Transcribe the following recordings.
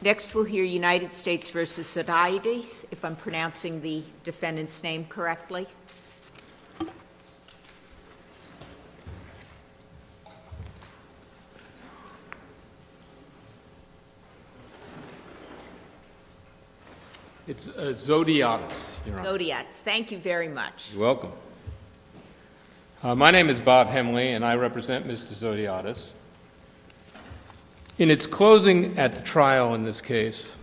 Next we'll hear United States v. Zodiatis, if I'm pronouncing the defendant's name correctly. It's Zodiatis. Zodiatis. Thank you very much. You're welcome. My name is Bob Hemley and I represent Mr. Zodiatis. In its closing at the trial in this case,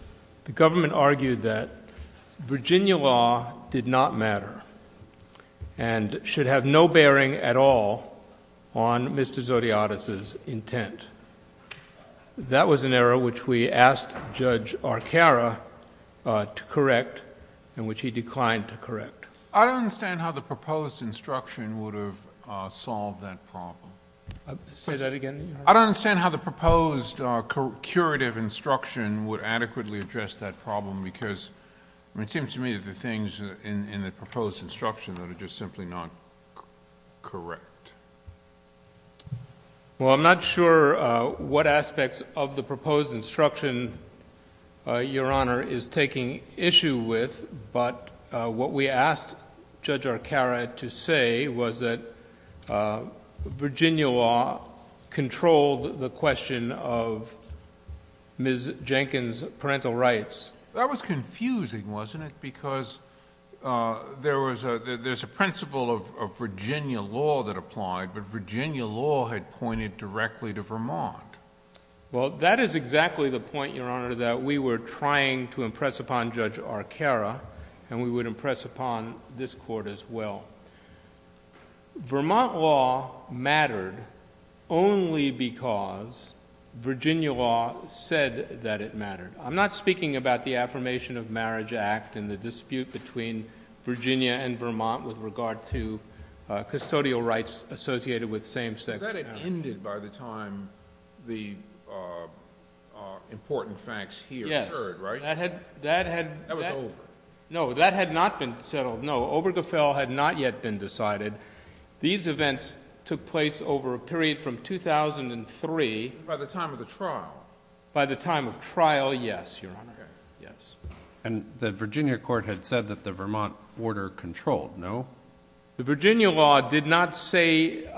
the government argued that Virginia law did not matter and should have no bearing at all on Mr. Zodiatis' intent. That was an error which we asked Judge Arcara to correct and which he declined to correct. I don't understand how the proposed instruction would have solved that problem. Say that again. I don't understand how the proposed curative instruction would adequately address that problem because it seems to me that the things in the proposed instruction are just simply not correct. Well, I'm not sure what aspects of the proposed instruction Your Honor is taking issue with, but what we asked Judge Arcara to say was that Virginia law controlled the question of Ms. Jenkins' parental rights. That was confusing, wasn't it? Because there's a principle of Virginia law that applied, but Virginia law had pointed directly to Vermont. Well, that is exactly the point, Your Honor, that we were trying to impress upon Judge Arcara and we would impress upon this Court as well. Vermont law mattered only because Virginia law said that it mattered. I'm not speaking about the Affirmation of Marriage Act and the dispute between Virginia and Vermont with regard to custodial rights associated with same-sex marriage. Is that it ended by the time the important facts here occurred, right? Yes. That was over. No, that had not been settled, no. Obergefell had not yet been decided. These events took place over a period from 2003. By the time of the trial. By the time of trial, yes, Your Honor. And the Virginia court had said that the Vermont border controlled, no? The Virginia law did not say...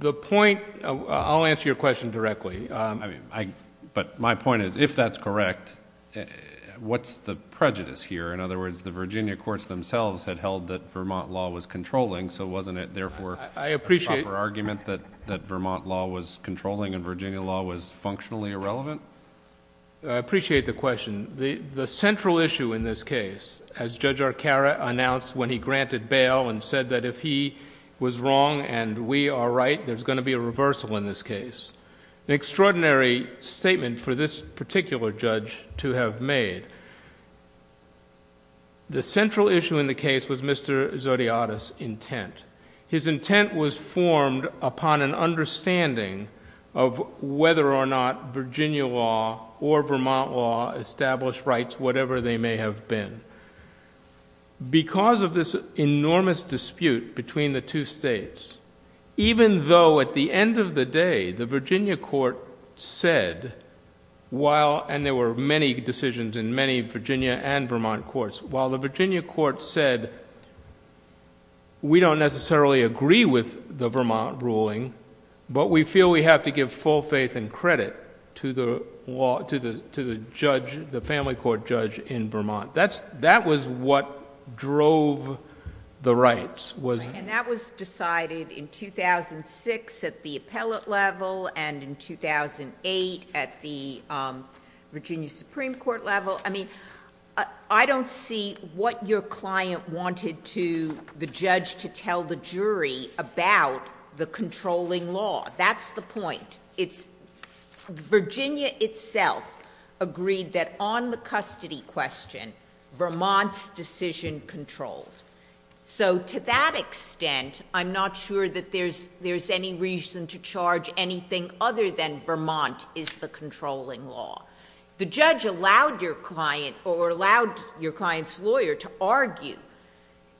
The point, I'll answer your question directly. But my point is, if that's correct, what's the prejudice here? In other words, the Virginia courts themselves had held that Vermont law was controlling, so wasn't it therefore a proper argument that Vermont law was controlling and Virginia law was functionally irrelevant? I appreciate the question. The central issue in this case, as Judge Arcaro announced when he granted bail and said that if he was wrong and we are right, there's going to be a reversal in this case. An extraordinary statement for this particular judge to have made. The central issue in the case was Mr. Zodiotis' intent. His intent was formed upon an understanding of whether or not Virginia law or Vermont law established rights, whatever they may have been. Because of this enormous dispute between the two states. Even though at the end of the day, the Virginia court said, while... And there were many decisions in many Virginia and Vermont courts. While the Virginia court said, we don't necessarily agree with the Vermont ruling, but we feel we have to give full faith and credit to the family court judge in Vermont. That was what drove the rights. And that was decided in 2006 at the appellate level and in 2008 at the Virginia Supreme Court level. I mean, I don't see what your client wanted the judge to tell the jury about the controlling law. That's the point. Virginia itself agreed that on the custody question, Vermont's decision controlled. So to that extent, I'm not sure that there's any reason to charge anything other than Vermont is the controlling law. The judge allowed your client or allowed your client's lawyer to argue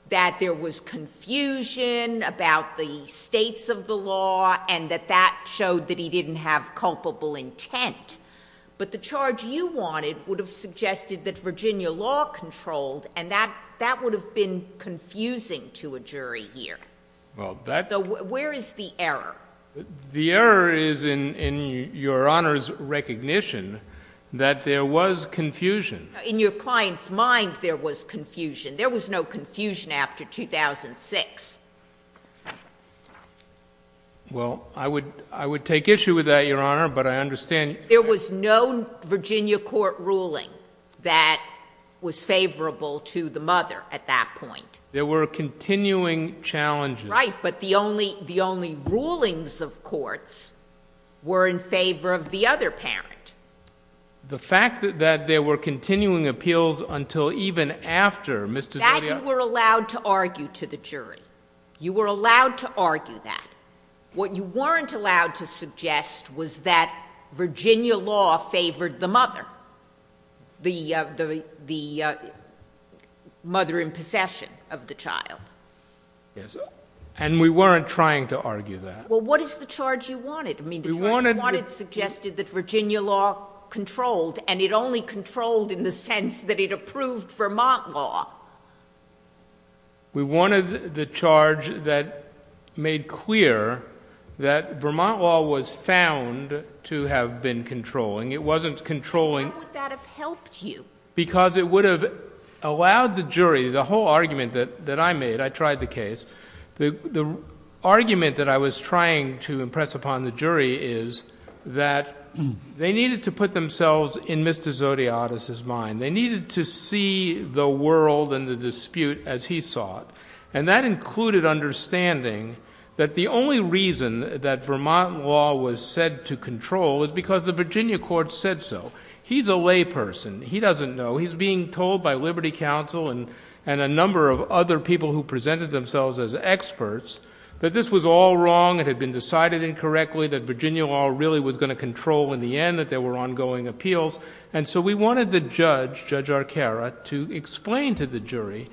that there was confusion about the states of the law and that that showed that he didn't have culpable intent. But the charge you wanted would have suggested that Virginia law controlled, and that would have been confusing to a jury here. Where is the error? The error is in your Honor's recognition that there was confusion. In your client's mind, there was confusion. There was no confusion after 2006. Well, I would take issue with that, Your Honor, but I understand. There was no Virginia court ruling that was favorable to the mother at that point. There were continuing challenges. Right. But the only rulings of courts were in favor of the other parent. The fact that there were continuing appeals until even after, Mr. Zodio. You were allowed to argue to the jury. You were allowed to argue that. What you weren't allowed to suggest was that Virginia law favored the mother, the mother in possession of the child. Yes, and we weren't trying to argue that. Well, what is the charge you wanted? I mean, the charge you wanted suggested that Virginia law controlled, and it only controlled in the sense that it approved Vermont law. We wanted the charge that made clear that Vermont law was found to have been controlling. It wasn't controlling. How would that have helped you? Because it would have allowed the jury, the whole argument that I made, I tried the case. The argument that I was trying to impress upon the jury is that they needed to put themselves in Mr. Zodiotis' mind. They needed to see the world and the dispute as he saw it. And that included understanding that the only reason that Vermont law was said to control is because the Virginia court said so. He's a layperson. He doesn't know. He's being told by Liberty Council and a number of other people who presented themselves as experts that this was all wrong. It had been decided incorrectly that Virginia law really was going to control in the end that there were ongoing appeals. And so we wanted the judge, Judge Arcara, to explain to the jury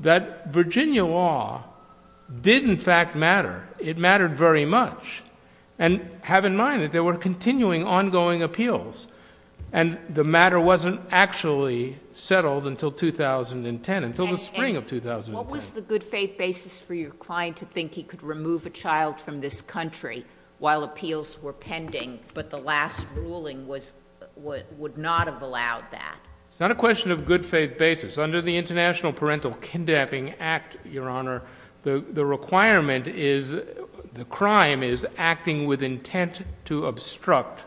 that Virginia law did, in fact, matter. It mattered very much. And have in mind that there were continuing, ongoing appeals. And the matter wasn't actually settled until 2010, until the spring of 2010. What was the good faith basis for your client to think he could remove a child from this country while appeals were pending, but the last ruling would not have allowed that? It's not a question of good faith basis. Under the International Parental Kindapping Act, Your Honor, the requirement is, the crime is acting with intent to obstruct.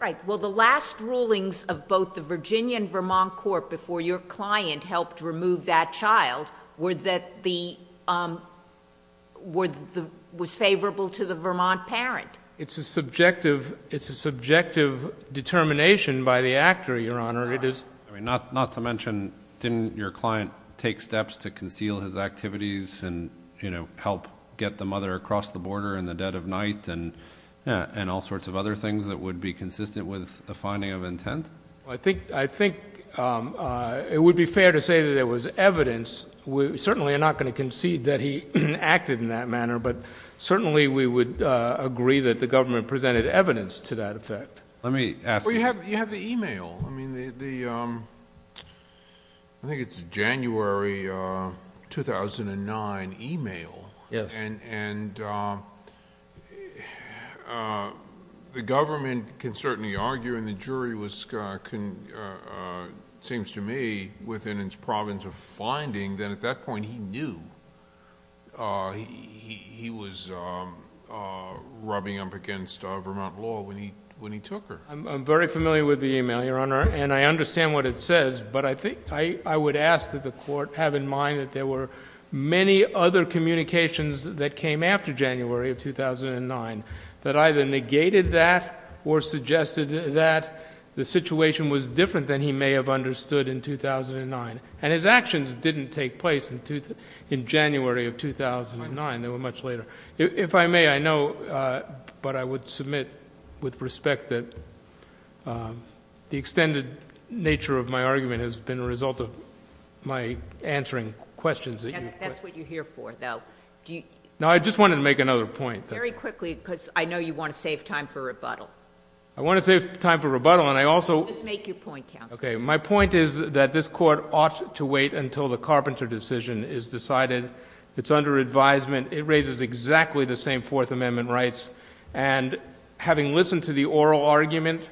Right. Well, the last rulings of both the Virginia and Vermont court before your client helped remove that child was favorable to the Vermont parent. It's a subjective determination by the actor, Your Honor. Not to mention, didn't your client take steps to conceal his activities and, you know, help get the mother across the border in the dead of night and all sorts of other things that would be consistent with a finding of intent? I think it would be fair to say that there was evidence. We certainly are not going to concede that he acted in that manner, but certainly we would agree that the government presented evidence to that effect. Well, you have the e-mail. I think it's a January 2009 e-mail. Yes. And the government can certainly argue, and the jury was, it seems to me, within its province of finding that at that point he knew he was rubbing up against Vermont law when he took her. I'm very familiar with the e-mail, Your Honor, and I understand what it says, but I think I would ask that the court have in mind that there were many other communications that came after January of 2009 that either negated that or suggested that the situation was different than he may have understood in 2009. And his actions didn't take place in January of 2009. They were much later. If I may, I know, but I would submit with respect that the extended nature of my argument has been a result of my answering questions that you've put. That's what you're here for, though. No, I just wanted to make another point. Very quickly, because I know you want to save time for rebuttal. I want to save time for rebuttal, and I also... Just make your point, counsel. Okay. My point is that this court ought to wait until the Carpenter decision is decided. It's under advisement. It raises exactly the same Fourth Amendment rights, and having listened to the oral argument,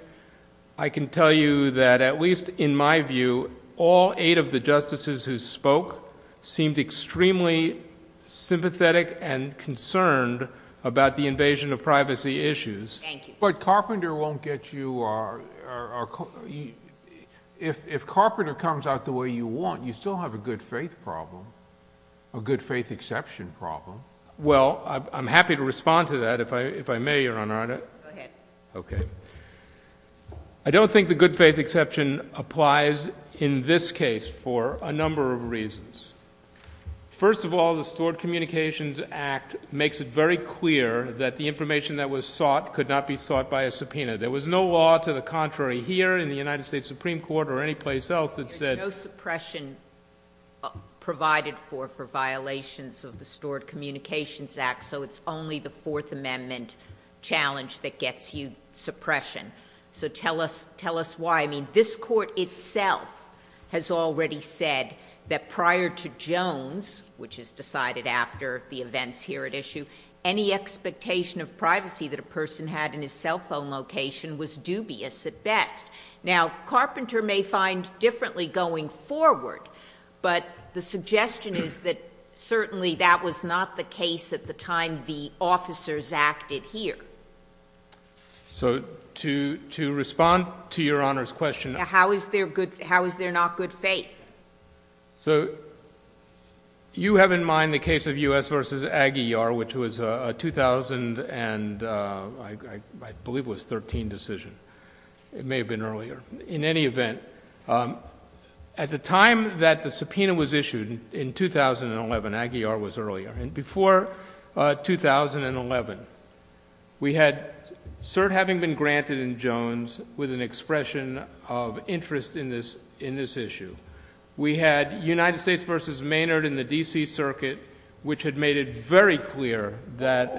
I can tell you that, at least in my view, all eight of the justices who spoke seemed extremely sympathetic and concerned about the invasion of privacy issues. Thank you. But Carpenter won't get you... If Carpenter comes out the way you want, you still have a good faith problem, a good faith exception problem. Well, I'm happy to respond to that, if I may, Your Honor. Go ahead. Okay. I don't think the good faith exception applies in this case for a number of reasons. First of all, the Stored Communications Act makes it very clear that the information that was sought could not be sought by a subpoena. There was no law to the contrary here in the United States Supreme Court or anyplace else that said... There's no suppression provided for for violations of the Stored Communications Act, so it's only the Fourth Amendment challenge that gets you suppression. So, tell us why. I mean, this Court itself has already said that prior to Jones, which is decided after the events here at issue, any expectation of privacy that a person had in his cell phone location was dubious at best. Now, Carpenter may find differently going forward, but the suggestion is that certainly that was not the case at the time the officers acted here. So, to respond to Your Honor's question... How is there not good faith? So, you have in mind the case of U.S. v. Aguiar, which was a 2000 and I believe it was a 2013 decision. It may have been earlier. In any event, at the time that the subpoena was issued in 2011, Aguiar was earlier, and before 2011, we had cert having been granted in Jones with an expression of interest in this issue. We had United States v. Maynard in the D.C. Circuit, which had made it very clear that...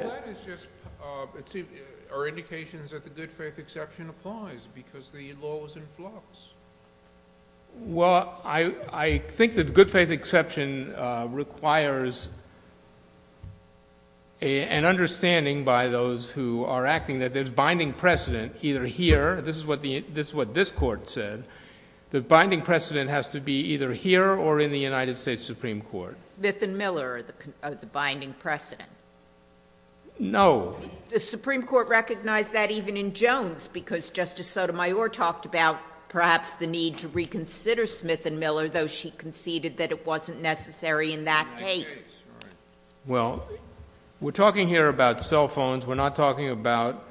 Well, I think that good faith exception requires an understanding by those who are acting that there's binding precedent either here... This is what this Court said. The binding precedent has to be either here or in the United States Supreme Court. Smith and Miller are the binding precedent. No. The Supreme Court recognized that even in Jones, because Justice Sotomayor talked about perhaps the need to reconsider Smith and Miller, though she conceded that it wasn't necessary in that case. Well, we're talking here about cell phones. We're not talking about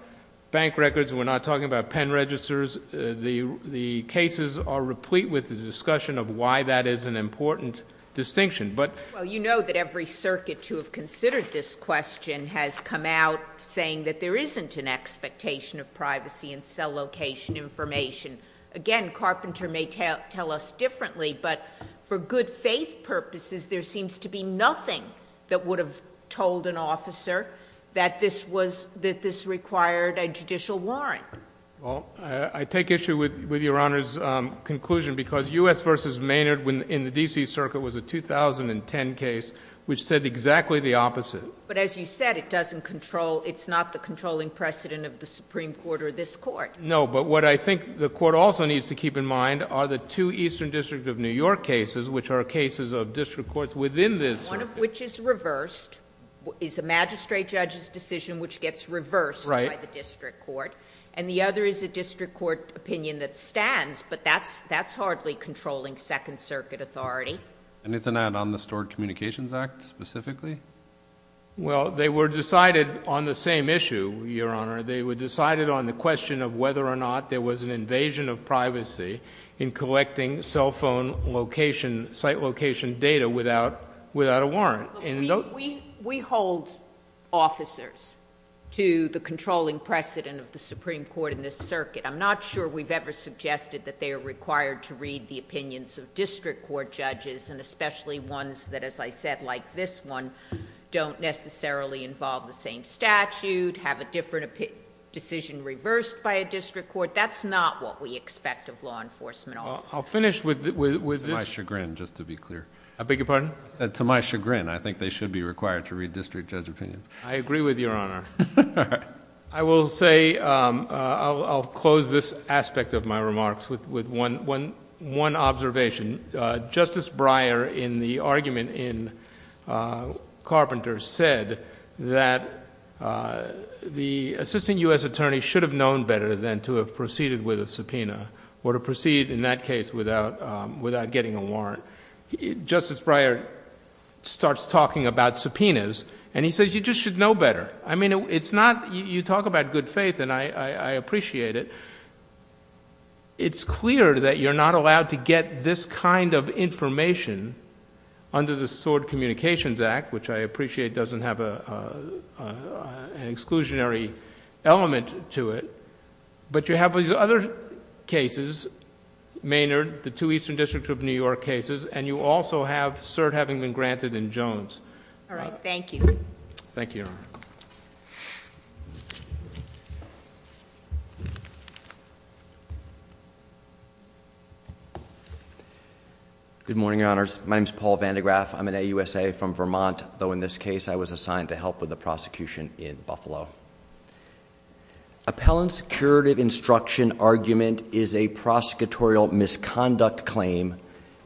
bank records. We're not talking about pen registers. The cases are replete with the discussion of why that is an important distinction, but...... saying that there isn't an expectation of privacy in cell location information. Again, Carpenter may tell us differently, but for good faith purposes, there seems to be nothing that would have told an officer that this required a judicial warrant. Well, I take issue with Your Honor's conclusion, because U.S. v. Maynard in the D.C. Circuit was a 2010 case which said exactly the opposite. But as you said, it doesn't control... it's not the controlling precedent of the Supreme Court or this Court. No, but what I think the Court also needs to keep in mind are the two Eastern District of New York cases, which are cases of district courts within this circuit. One of which is reversed, is a magistrate judge's decision which gets reversed by the district court. Right. And the other is a district court opinion that stands, but that's hardly controlling Second Circuit authority. And isn't that on the Stored Communications Act specifically? Well, they were decided on the same issue, Your Honor. They were decided on the question of whether or not there was an invasion of privacy in collecting cell phone location... site location data without a warrant. We hold officers to the controlling precedent of the Supreme Court in this circuit. I'm not sure we've ever suggested that they are required to read the opinions of district court judges. And especially ones that, as I said, like this one, don't necessarily involve the same statute, have a different decision reversed by a district court. That's not what we expect of law enforcement officers. I'll finish with this... To my chagrin, just to be clear. I beg your pardon? To my chagrin, I think they should be required to read district judge opinions. I agree with Your Honor. All right. I will say... I'll close this aspect of my remarks with one observation. Justice Breyer, in the argument in Carpenter, said that the assistant U.S. attorney should have known better than to have proceeded with a subpoena... or to proceed in that case without getting a warrant. Justice Breyer starts talking about subpoenas and he says you just should know better. I mean, it's not... you talk about good faith and I appreciate it. It's clear that you're not allowed to get this kind of information under the Sword Communications Act, which I appreciate doesn't have an exclusionary element to it. But you have these other cases, Maynard, the two Eastern District of New York cases, and you also have cert having been granted in Jones. All right. Thank you. Thank you, Your Honor. Good morning, Your Honors. My name is Paul Van de Graaff. I'm an AUSA from Vermont, though in this case I was assigned to help with the prosecution in Buffalo. Appellant's curative instruction argument is a prosecutorial misconduct claim,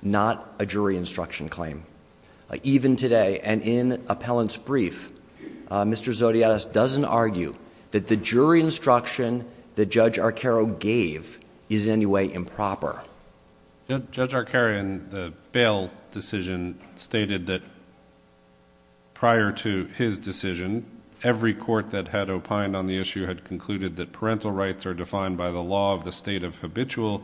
not a jury instruction claim. Even today, and in Appellant's brief, Mr. Zodiatis doesn't argue that the jury instruction that Judge Arcaro gave is in any way improper. Judge Arcaro in the bail decision stated that prior to his decision, every court that had opined on the issue had concluded that parental rights are defined by the law of the state of habitual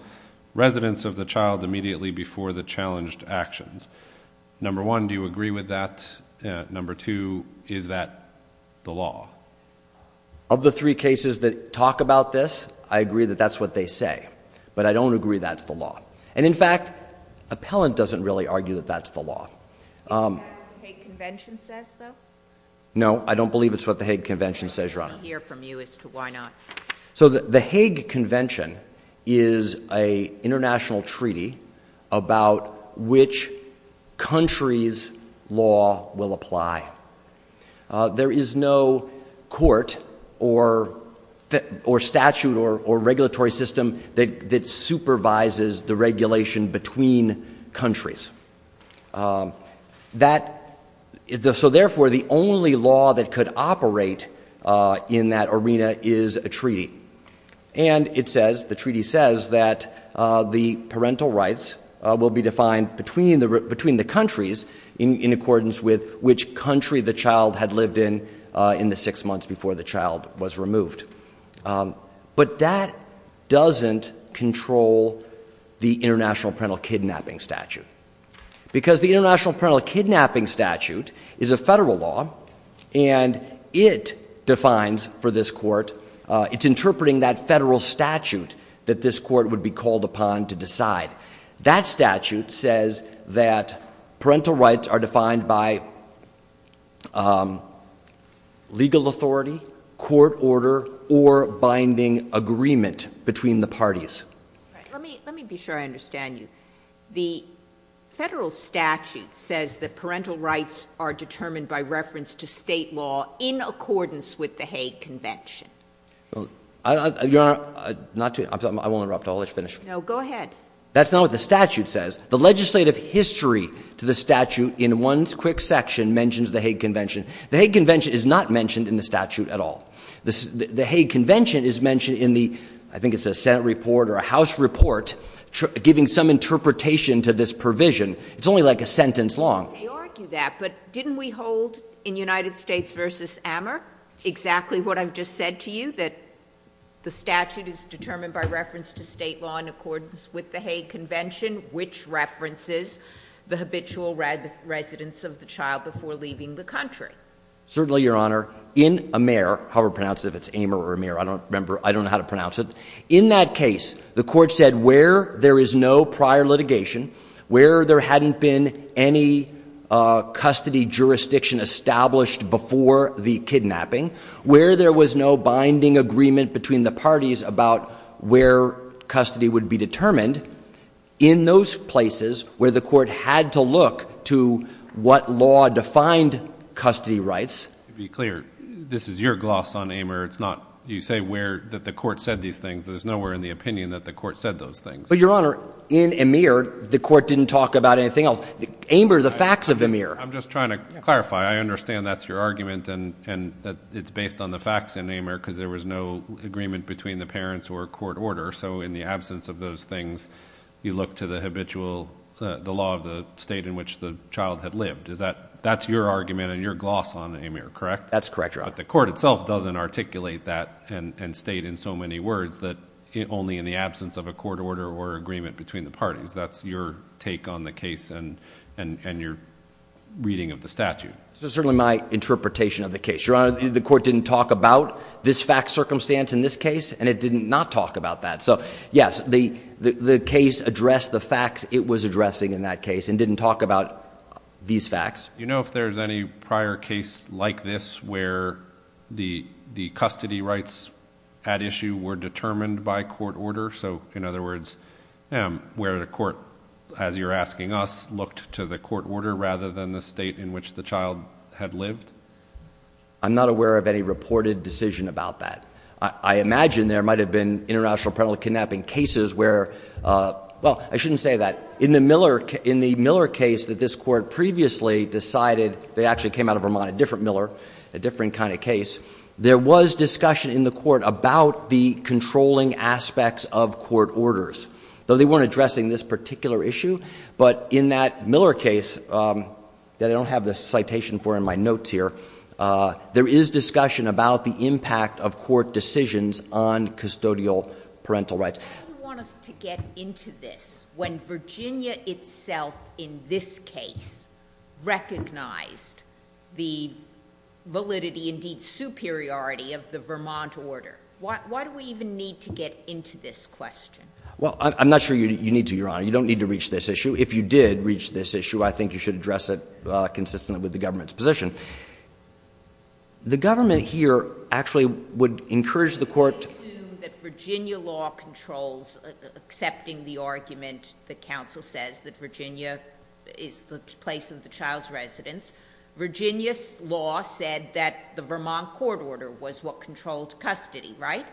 residence of the child immediately before the challenged actions. Number one, do you agree with that? Number two, is that the law? Of the three cases that talk about this, I agree that that's what they say. But I don't agree that's the law. And, in fact, Appellant doesn't really argue that that's the law. Is that what the Hague Convention says, though? No, I don't believe it's what the Hague Convention says, Your Honor. Let me hear from you as to why not. So the Hague Convention is an international treaty about which country's law will apply. There is no court or statute or regulatory system that supervises the regulation between countries. So, therefore, the only law that could operate in that arena is a treaty. And it says, the treaty says, that the parental rights will be defined between the countries in accordance with which country the child had lived in in the six months before the child was removed. But that doesn't control the International Parental Kidnapping Statute. Because the International Parental Kidnapping Statute is a federal law, and it defines for this court, it's interpreting that federal statute that this court would be called upon to decide. That statute says that parental rights are defined by legal authority, court order, or binding agreement between the parties. Let me be sure I understand you. The federal statute says that parental rights are determined by reference to state law in accordance with the Hague Convention. Your Honor, I won't interrupt. I'll let you finish. No, go ahead. That's not what the statute says. The legislative history to the statute in one quick section mentions the Hague Convention. The Hague Convention is not mentioned in the statute at all. The Hague Convention is mentioned in the, I think it's a Senate report or a House report, giving some interpretation to this provision. It's only like a sentence long. I argue that. But didn't we hold in United States v. Amer exactly what I've just said to you, that the statute is determined by reference to state law in accordance with the Hague Convention, which references the habitual residence of the child before leaving the country? Certainly, Your Honor. In Amer, however pronounced it, if it's Amer or Amer, I don't remember, I don't know how to pronounce it. In that case, the court said where there is no prior litigation, where there hadn't been any custody jurisdiction established before the kidnapping, where there was no binding agreement between the parties about where custody would be determined, in those places where the court had to look to what law defined custody rights. To be clear, this is your gloss on Amer. It's not, you say where, that the court said these things. There's nowhere in the opinion that the court said those things. But, Your Honor, in Amer, the court didn't talk about anything else. Amer, the facts of Amer. I'm just trying to clarify. I understand that's your argument and that it's based on the facts in Amer because there was no agreement between the parents or court order. So, in the absence of those things, you look to the habitual, the law of the state in which the child had lived. Is that, that's your argument and your gloss on Amer, correct? That's correct, Your Honor. But the court itself doesn't articulate that and state in so many words that only in the absence of a court order or agreement between the parties. That's your take on the case and your reading of the statute. This is certainly my interpretation of the case. Your Honor, the court didn't talk about this fact circumstance in this case and it did not talk about that. So, yes, the case addressed the facts it was addressing in that case and didn't talk about these facts. Do you know if there's any prior case like this where the custody rights at issue were determined by court order? So, in other words, where the court, as you're asking us, looked to the court order rather than the state in which the child had lived? I'm not aware of any reported decision about that. I imagine there might have been international penalty kidnapping cases where, well, I shouldn't say that. In the Miller case that this court previously decided, they actually came out of Vermont, a different Miller, a different kind of case. There was discussion in the court about the controlling aspects of court orders, though they weren't addressing this particular issue. But in that Miller case that I don't have the citation for in my notes here, there is discussion about the impact of court decisions on custodial parental rights. Why do you want us to get into this when Virginia itself in this case recognized the validity, indeed superiority, of the Vermont order? Why do we even need to get into this question? Well, I'm not sure you need to, Your Honor. You don't need to reach this issue. If you did reach this issue, I think you should address it consistently with the government's position. The government here actually would encourage the court to— I assume that Virginia law controls accepting the argument that counsel says that Virginia is the place of the child's residence. Virginia's law said that the Vermont court order was what controlled custody, right?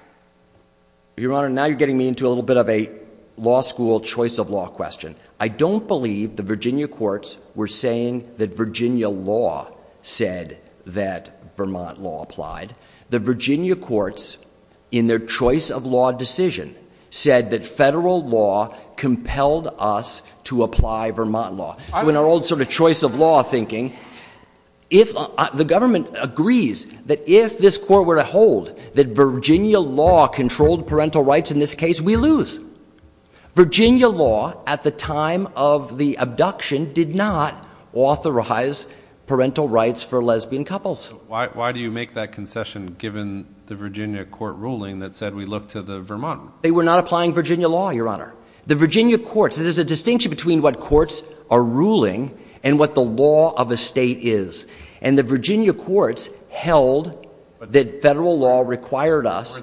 Your Honor, now you're getting me into a little bit of a law school choice of law question. I don't believe the Virginia courts were saying that Virginia law said that Vermont law applied. The Virginia courts, in their choice of law decision, said that federal law compelled us to apply Vermont law. So in our old sort of choice of law thinking, the government agrees that if this court were to hold that Virginia law controlled parental rights in this case, we lose. Virginia law at the time of the abduction did not authorize parental rights for lesbian couples. Why do you make that concession given the Virginia court ruling that said we look to the Vermont? They were not applying Virginia law, Your Honor. The Virginia courts—there's a distinction between what courts are ruling and what the law of a state is. And the Virginia courts held that federal law required us—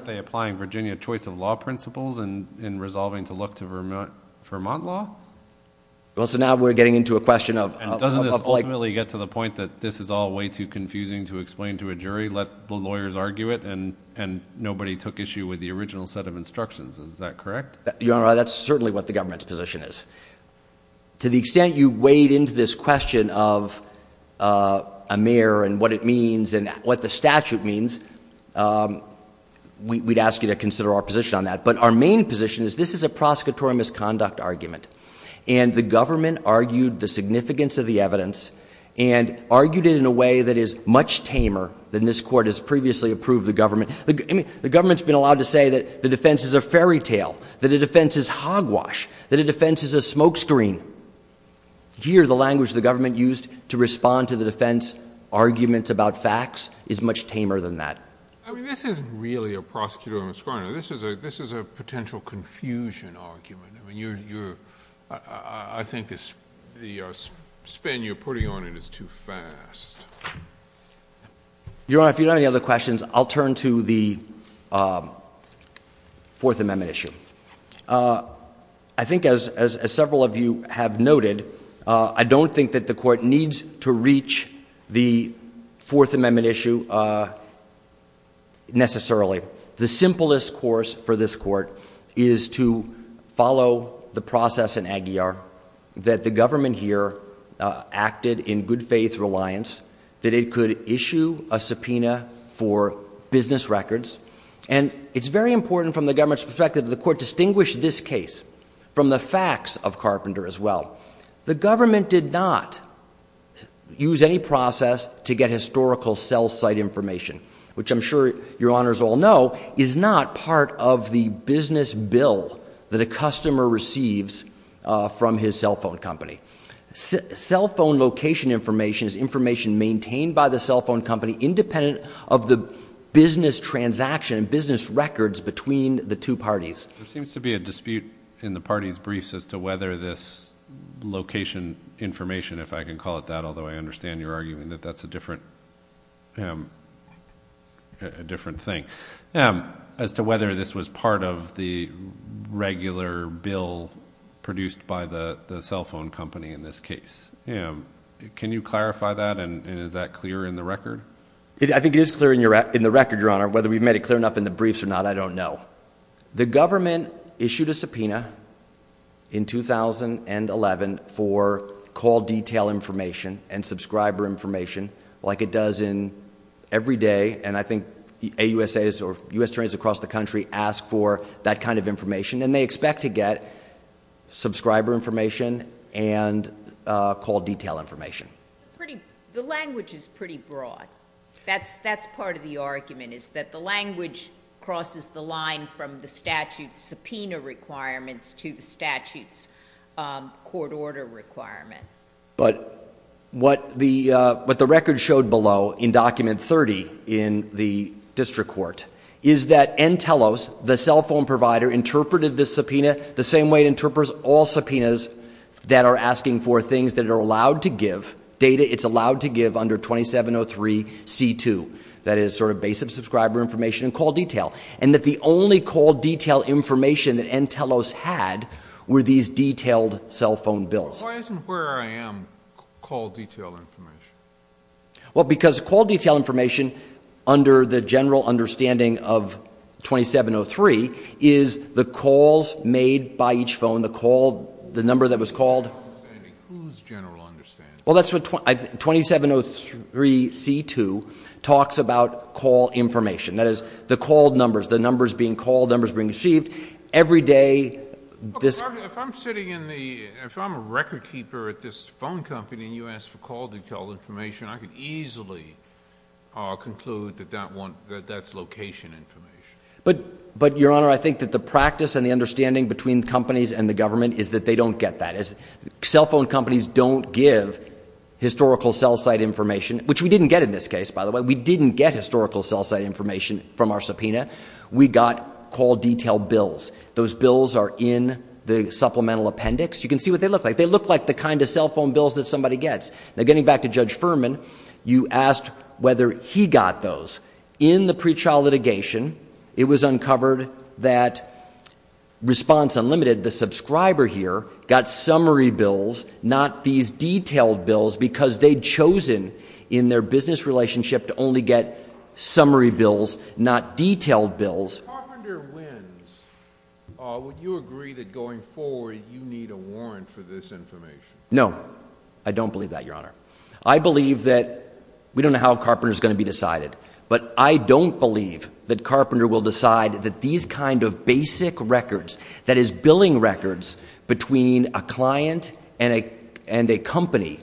Vermont law? Well, so now we're getting into a question of— And doesn't this ultimately get to the point that this is all way too confusing to explain to a jury, let the lawyers argue it, and nobody took issue with the original set of instructions? Is that correct? Your Honor, that's certainly what the government's position is. To the extent you weighed into this question of a mayor and what it means and what the statute means, we'd ask you to consider our position on that. But our main position is this is a prosecutorial misconduct argument. And the government argued the significance of the evidence and argued it in a way that is much tamer than this court has previously approved the government— I mean, the government's been allowed to say that the defense is a fairy tale, that the defense is hogwash, that the defense is a smokescreen. Here, the language the government used to respond to the defense arguments about facts is much tamer than that. I mean, this is really a prosecutorial misconduct. Your Honor, this is a potential confusion argument. I mean, I think the spin you're putting on it is too fast. Your Honor, if you don't have any other questions, I'll turn to the Fourth Amendment issue. I think as several of you have noted, I don't think that the court needs to reach the Fourth Amendment issue necessarily. The simplest course for this court is to follow the process in Aguilar that the government here acted in good faith reliance, that it could issue a subpoena for business records. And it's very important from the government's perspective that the court distinguish this case from the facts of Carpenter as well. The government did not use any process to get historical cell site information, which I'm sure your honors all know is not part of the business bill that a customer receives from his cell phone company. Cell phone location information is information maintained by the cell phone company independent of the business transaction and business records between the two parties. There seems to be a dispute in the party's briefs as to whether this location information, if I can call it that, although I understand you're arguing that that's a different thing, as to whether this was part of the regular bill produced by the cell phone company in this case. Can you clarify that and is that clear in the record? I think it is clear in the record, Your Honor. Whether we've made it clear enough in the briefs or not, I don't know. The government issued a subpoena in 2011 for call detail information and subscriber information like it does every day. And I think AUSAs or U.S. attorneys across the country ask for that kind of information. And they expect to get subscriber information and call detail information. The language is pretty broad. That's part of the argument is that the language crosses the line from the statute's subpoena requirements to the statute's court order requirement. But what the record showed below in Document 30 in the district court is that Entelos, the cell phone provider, interpreted this subpoena the same way it interprets all subpoenas that are asking for things that are allowed to give data. It's allowed to give under 2703C2. That is sort of base of subscriber information and call detail. And that the only call detail information that Entelos had were these detailed cell phone bills. Why isn't where I am call detail information? Well, because call detail information under the general understanding of 2703 is the calls made by each phone, the call, the number that was called. Whose general understanding? Well, that's what 2703C2 talks about call information. That is the called numbers, the numbers being called, numbers being received every day. If I'm sitting in the, if I'm a record keeper at this phone company and you ask for call detail information, I could easily conclude that that's location information. But, Your Honor, I think that the practice and the understanding between companies and the government is that they don't get that. Cell phone companies don't give historical cell site information, which we didn't get in this case, by the way. We didn't get historical cell site information from our subpoena. We got call detail bills. Those bills are in the supplemental appendix. You can see what they look like. They look like the kind of cell phone bills that somebody gets. Now, getting back to Judge Furman, you asked whether he got those. In the pre-trial litigation, it was uncovered that Response Unlimited, the subscriber here, got summary bills, not these detailed bills, because they'd chosen in their business relationship to only get summary bills, not detailed bills. If Carpenter wins, would you agree that going forward you need a warrant for this information? No. I don't believe that, Your Honor. I believe that we don't know how Carpenter is going to be decided, but I don't believe that Carpenter will decide that these kind of basic records, that is, billing records, between a client and a company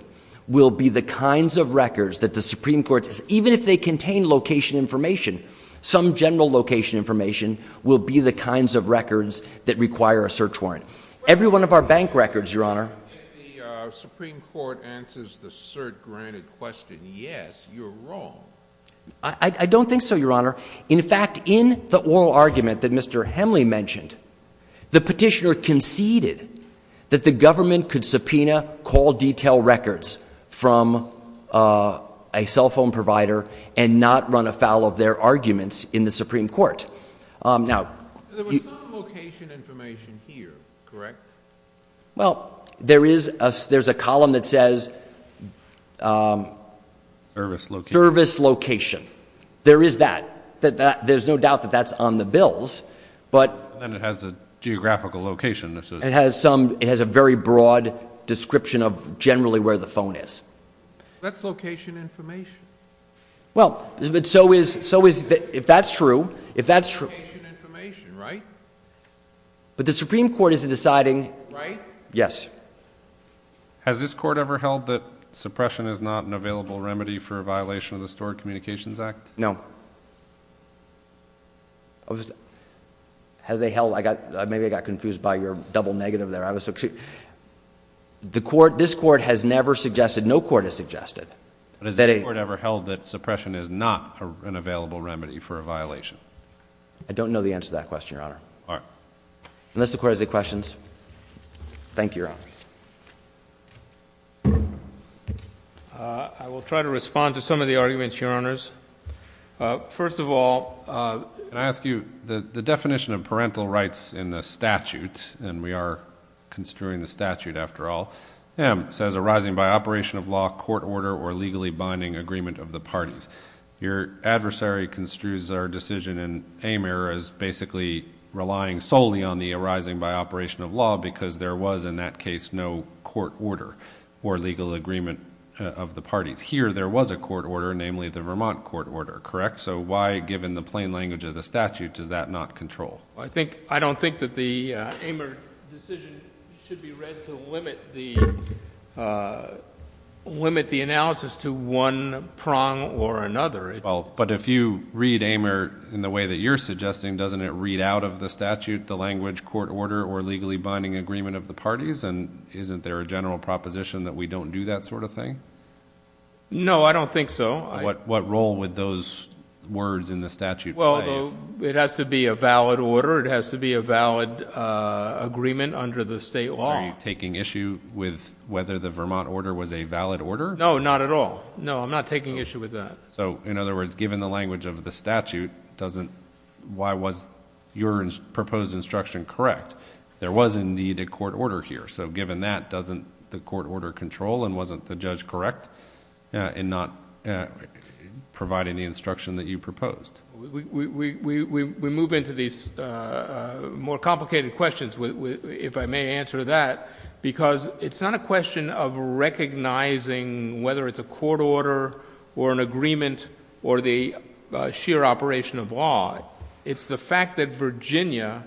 will be the kinds of records that the Supreme Court, even if they contain location information, some general location information, will be the kinds of records that require a search warrant. Every one of our bank records, Your Honor. If the Supreme Court answers the cert-granted question, yes, you're wrong. I don't think so, Your Honor. In fact, in the oral argument that Mr. Hemley mentioned, the petitioner conceded that the government could subpoena call detail records from a cell phone provider and not run afoul of their arguments in the Supreme Court. Now- There was some location information here, correct? Well, there is a column that says- Service location. Service location. There is that. There's no doubt that that's on the bills, but- Then it has a geographical location. It has a very broad description of generally where the phone is. That's location information. Well, so is- if that's true- That's location information, right? But the Supreme Court isn't deciding- Right? Yes. Has this court ever held that suppression is not an available remedy for a violation of the Stored Communications Act? No. Has they held- maybe I got confused by your double negative there. This court has never suggested- no court has suggested- But has this court ever held that suppression is not an available remedy for a violation? I don't know the answer to that question, Your Honor. All right. Unless the court has any questions. Thank you, Your Honor. I will try to respond to some of the arguments, Your Honors. First of all, can I ask you- the definition of parental rights in the statute- and we are construing the statute, after all- M says arising by operation of law, court order, or legally binding agreement of the parties. Your adversary construes our decision in Amer as basically relying solely on the arising by operation of law because there was, in that case, no court order or legal agreement of the parties. Here, there was a court order, namely the Vermont court order, correct? So why, given the plain language of the statute, does that not control? I don't think that the Amer decision should be read to limit the analysis to one prong or another. But if you read Amer in the way that you're suggesting, doesn't it read out of the statute the language, court order, or legally binding agreement of the parties? And isn't there a general proposition that we don't do that sort of thing? No, I don't think so. What role would those words in the statute play? Well, it has to be a valid order. It has to be a valid agreement under the state law. Are you taking issue with whether the Vermont order was a valid order? No, not at all. No, I'm not taking issue with that. So, in other words, given the language of the statute, why was your proposed instruction correct? There was, indeed, a court order here. So given that, doesn't the court order control and wasn't the judge correct in not providing the instruction that you proposed? We move into these more complicated questions, if I may answer that, because it's not a question of recognizing whether it's a court order or an agreement or the sheer operation of law. It's the fact that Virginia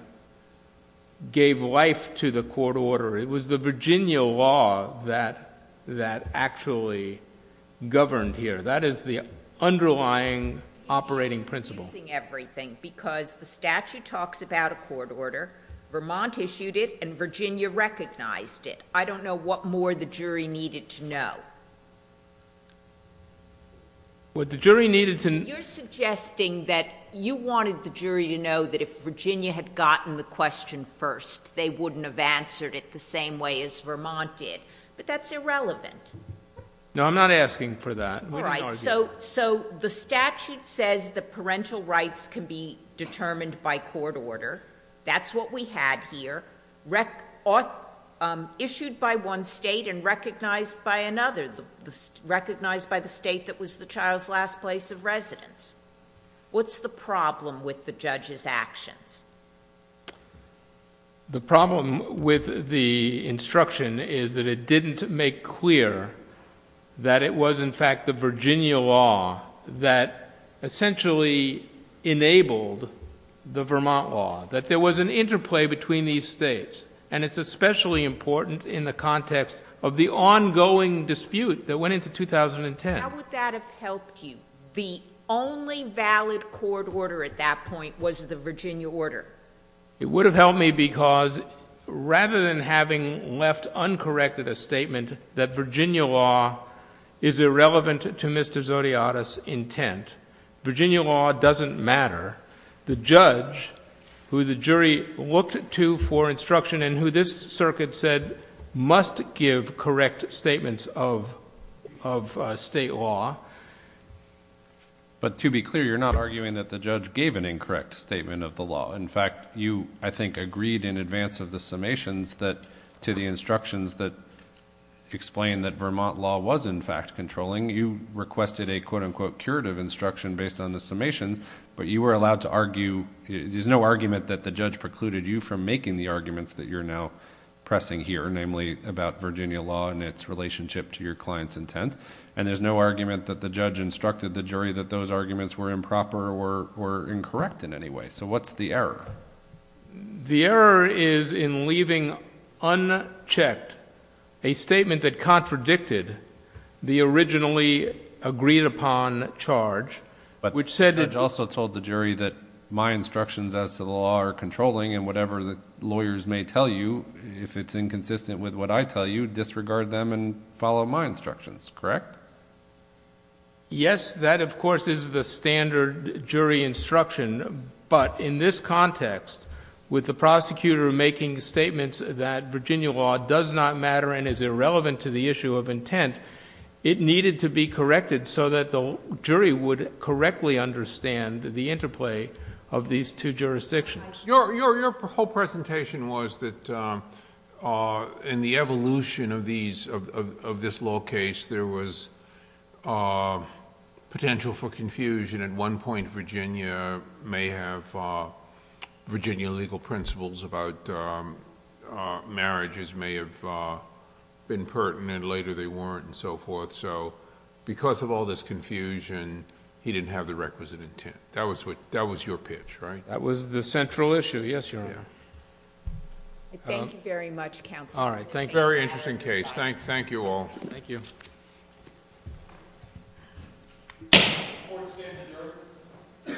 gave life to the court order. It was the Virginia law that actually governed here. That is the underlying operating principle. You're confusing everything, because the statute talks about a court order. Vermont issued it, and Virginia recognized it. I don't know what more the jury needed to know. Well, the jury needed to— You're suggesting that you wanted the jury to know that if Virginia had gotten the question first, they wouldn't have answered it the same way as Vermont did, but that's irrelevant. No, I'm not asking for that. All right, so the statute says that parental rights can be determined by court order. That's what we had here, issued by one state and recognized by another, recognized by the state that was the child's last place of residence. What's the problem with the judge's actions? The problem with the instruction is that it didn't make clear that it was, in fact, the Virginia law that essentially enabled the Vermont law, that there was an interplay between these states, and it's especially important in the context of the ongoing dispute that went into 2010. How would that have helped you? The only valid court order at that point was the Virginia order. It would have helped me because rather than having left uncorrected a statement that Virginia law is irrelevant to Mr. Zodiotis' intent, Virginia law doesn't matter. The judge, who the jury looked to for instruction and who this circuit said must give correct statements of state law. But to be clear, you're not arguing that the judge gave an incorrect statement of the law. In fact, you, I think, agreed in advance of the summations to the instructions that explained that Vermont law was, in fact, controlling. You requested a, quote-unquote, curative instruction based on the summations, but you were allowed to argue. There's no argument that the judge precluded you from making the arguments that you're now making, namely about Virginia law and its relationship to your client's intent, and there's no argument that the judge instructed the jury that those arguments were improper or incorrect in any way. So what's the error? The error is in leaving unchecked a statement that contradicted the originally agreed-upon charge. But the judge also told the jury that my instructions as to the law are controlling, and whatever the lawyers may tell you, if it's inconsistent with what I tell you, disregard them and follow my instructions, correct? Yes, that, of course, is the standard jury instruction. But in this context, with the prosecutor making statements that Virginia law does not matter and is irrelevant to the issue of intent, it needed to be corrected so that the jury would correctly understand the interplay of these two jurisdictions. Your whole presentation was that in the evolution of this law case, there was potential for confusion. At one point, Virginia legal principles about marriages may have been pertinent, later they weren't, and so forth. So because of all this confusion, he didn't have the requisite intent. That was your pitch, right? That was the central issue, yes, Your Honor. Thank you very much, Counsel. All right, thank you. Very interesting case. Thank you all. Thank you. Court is adjourned.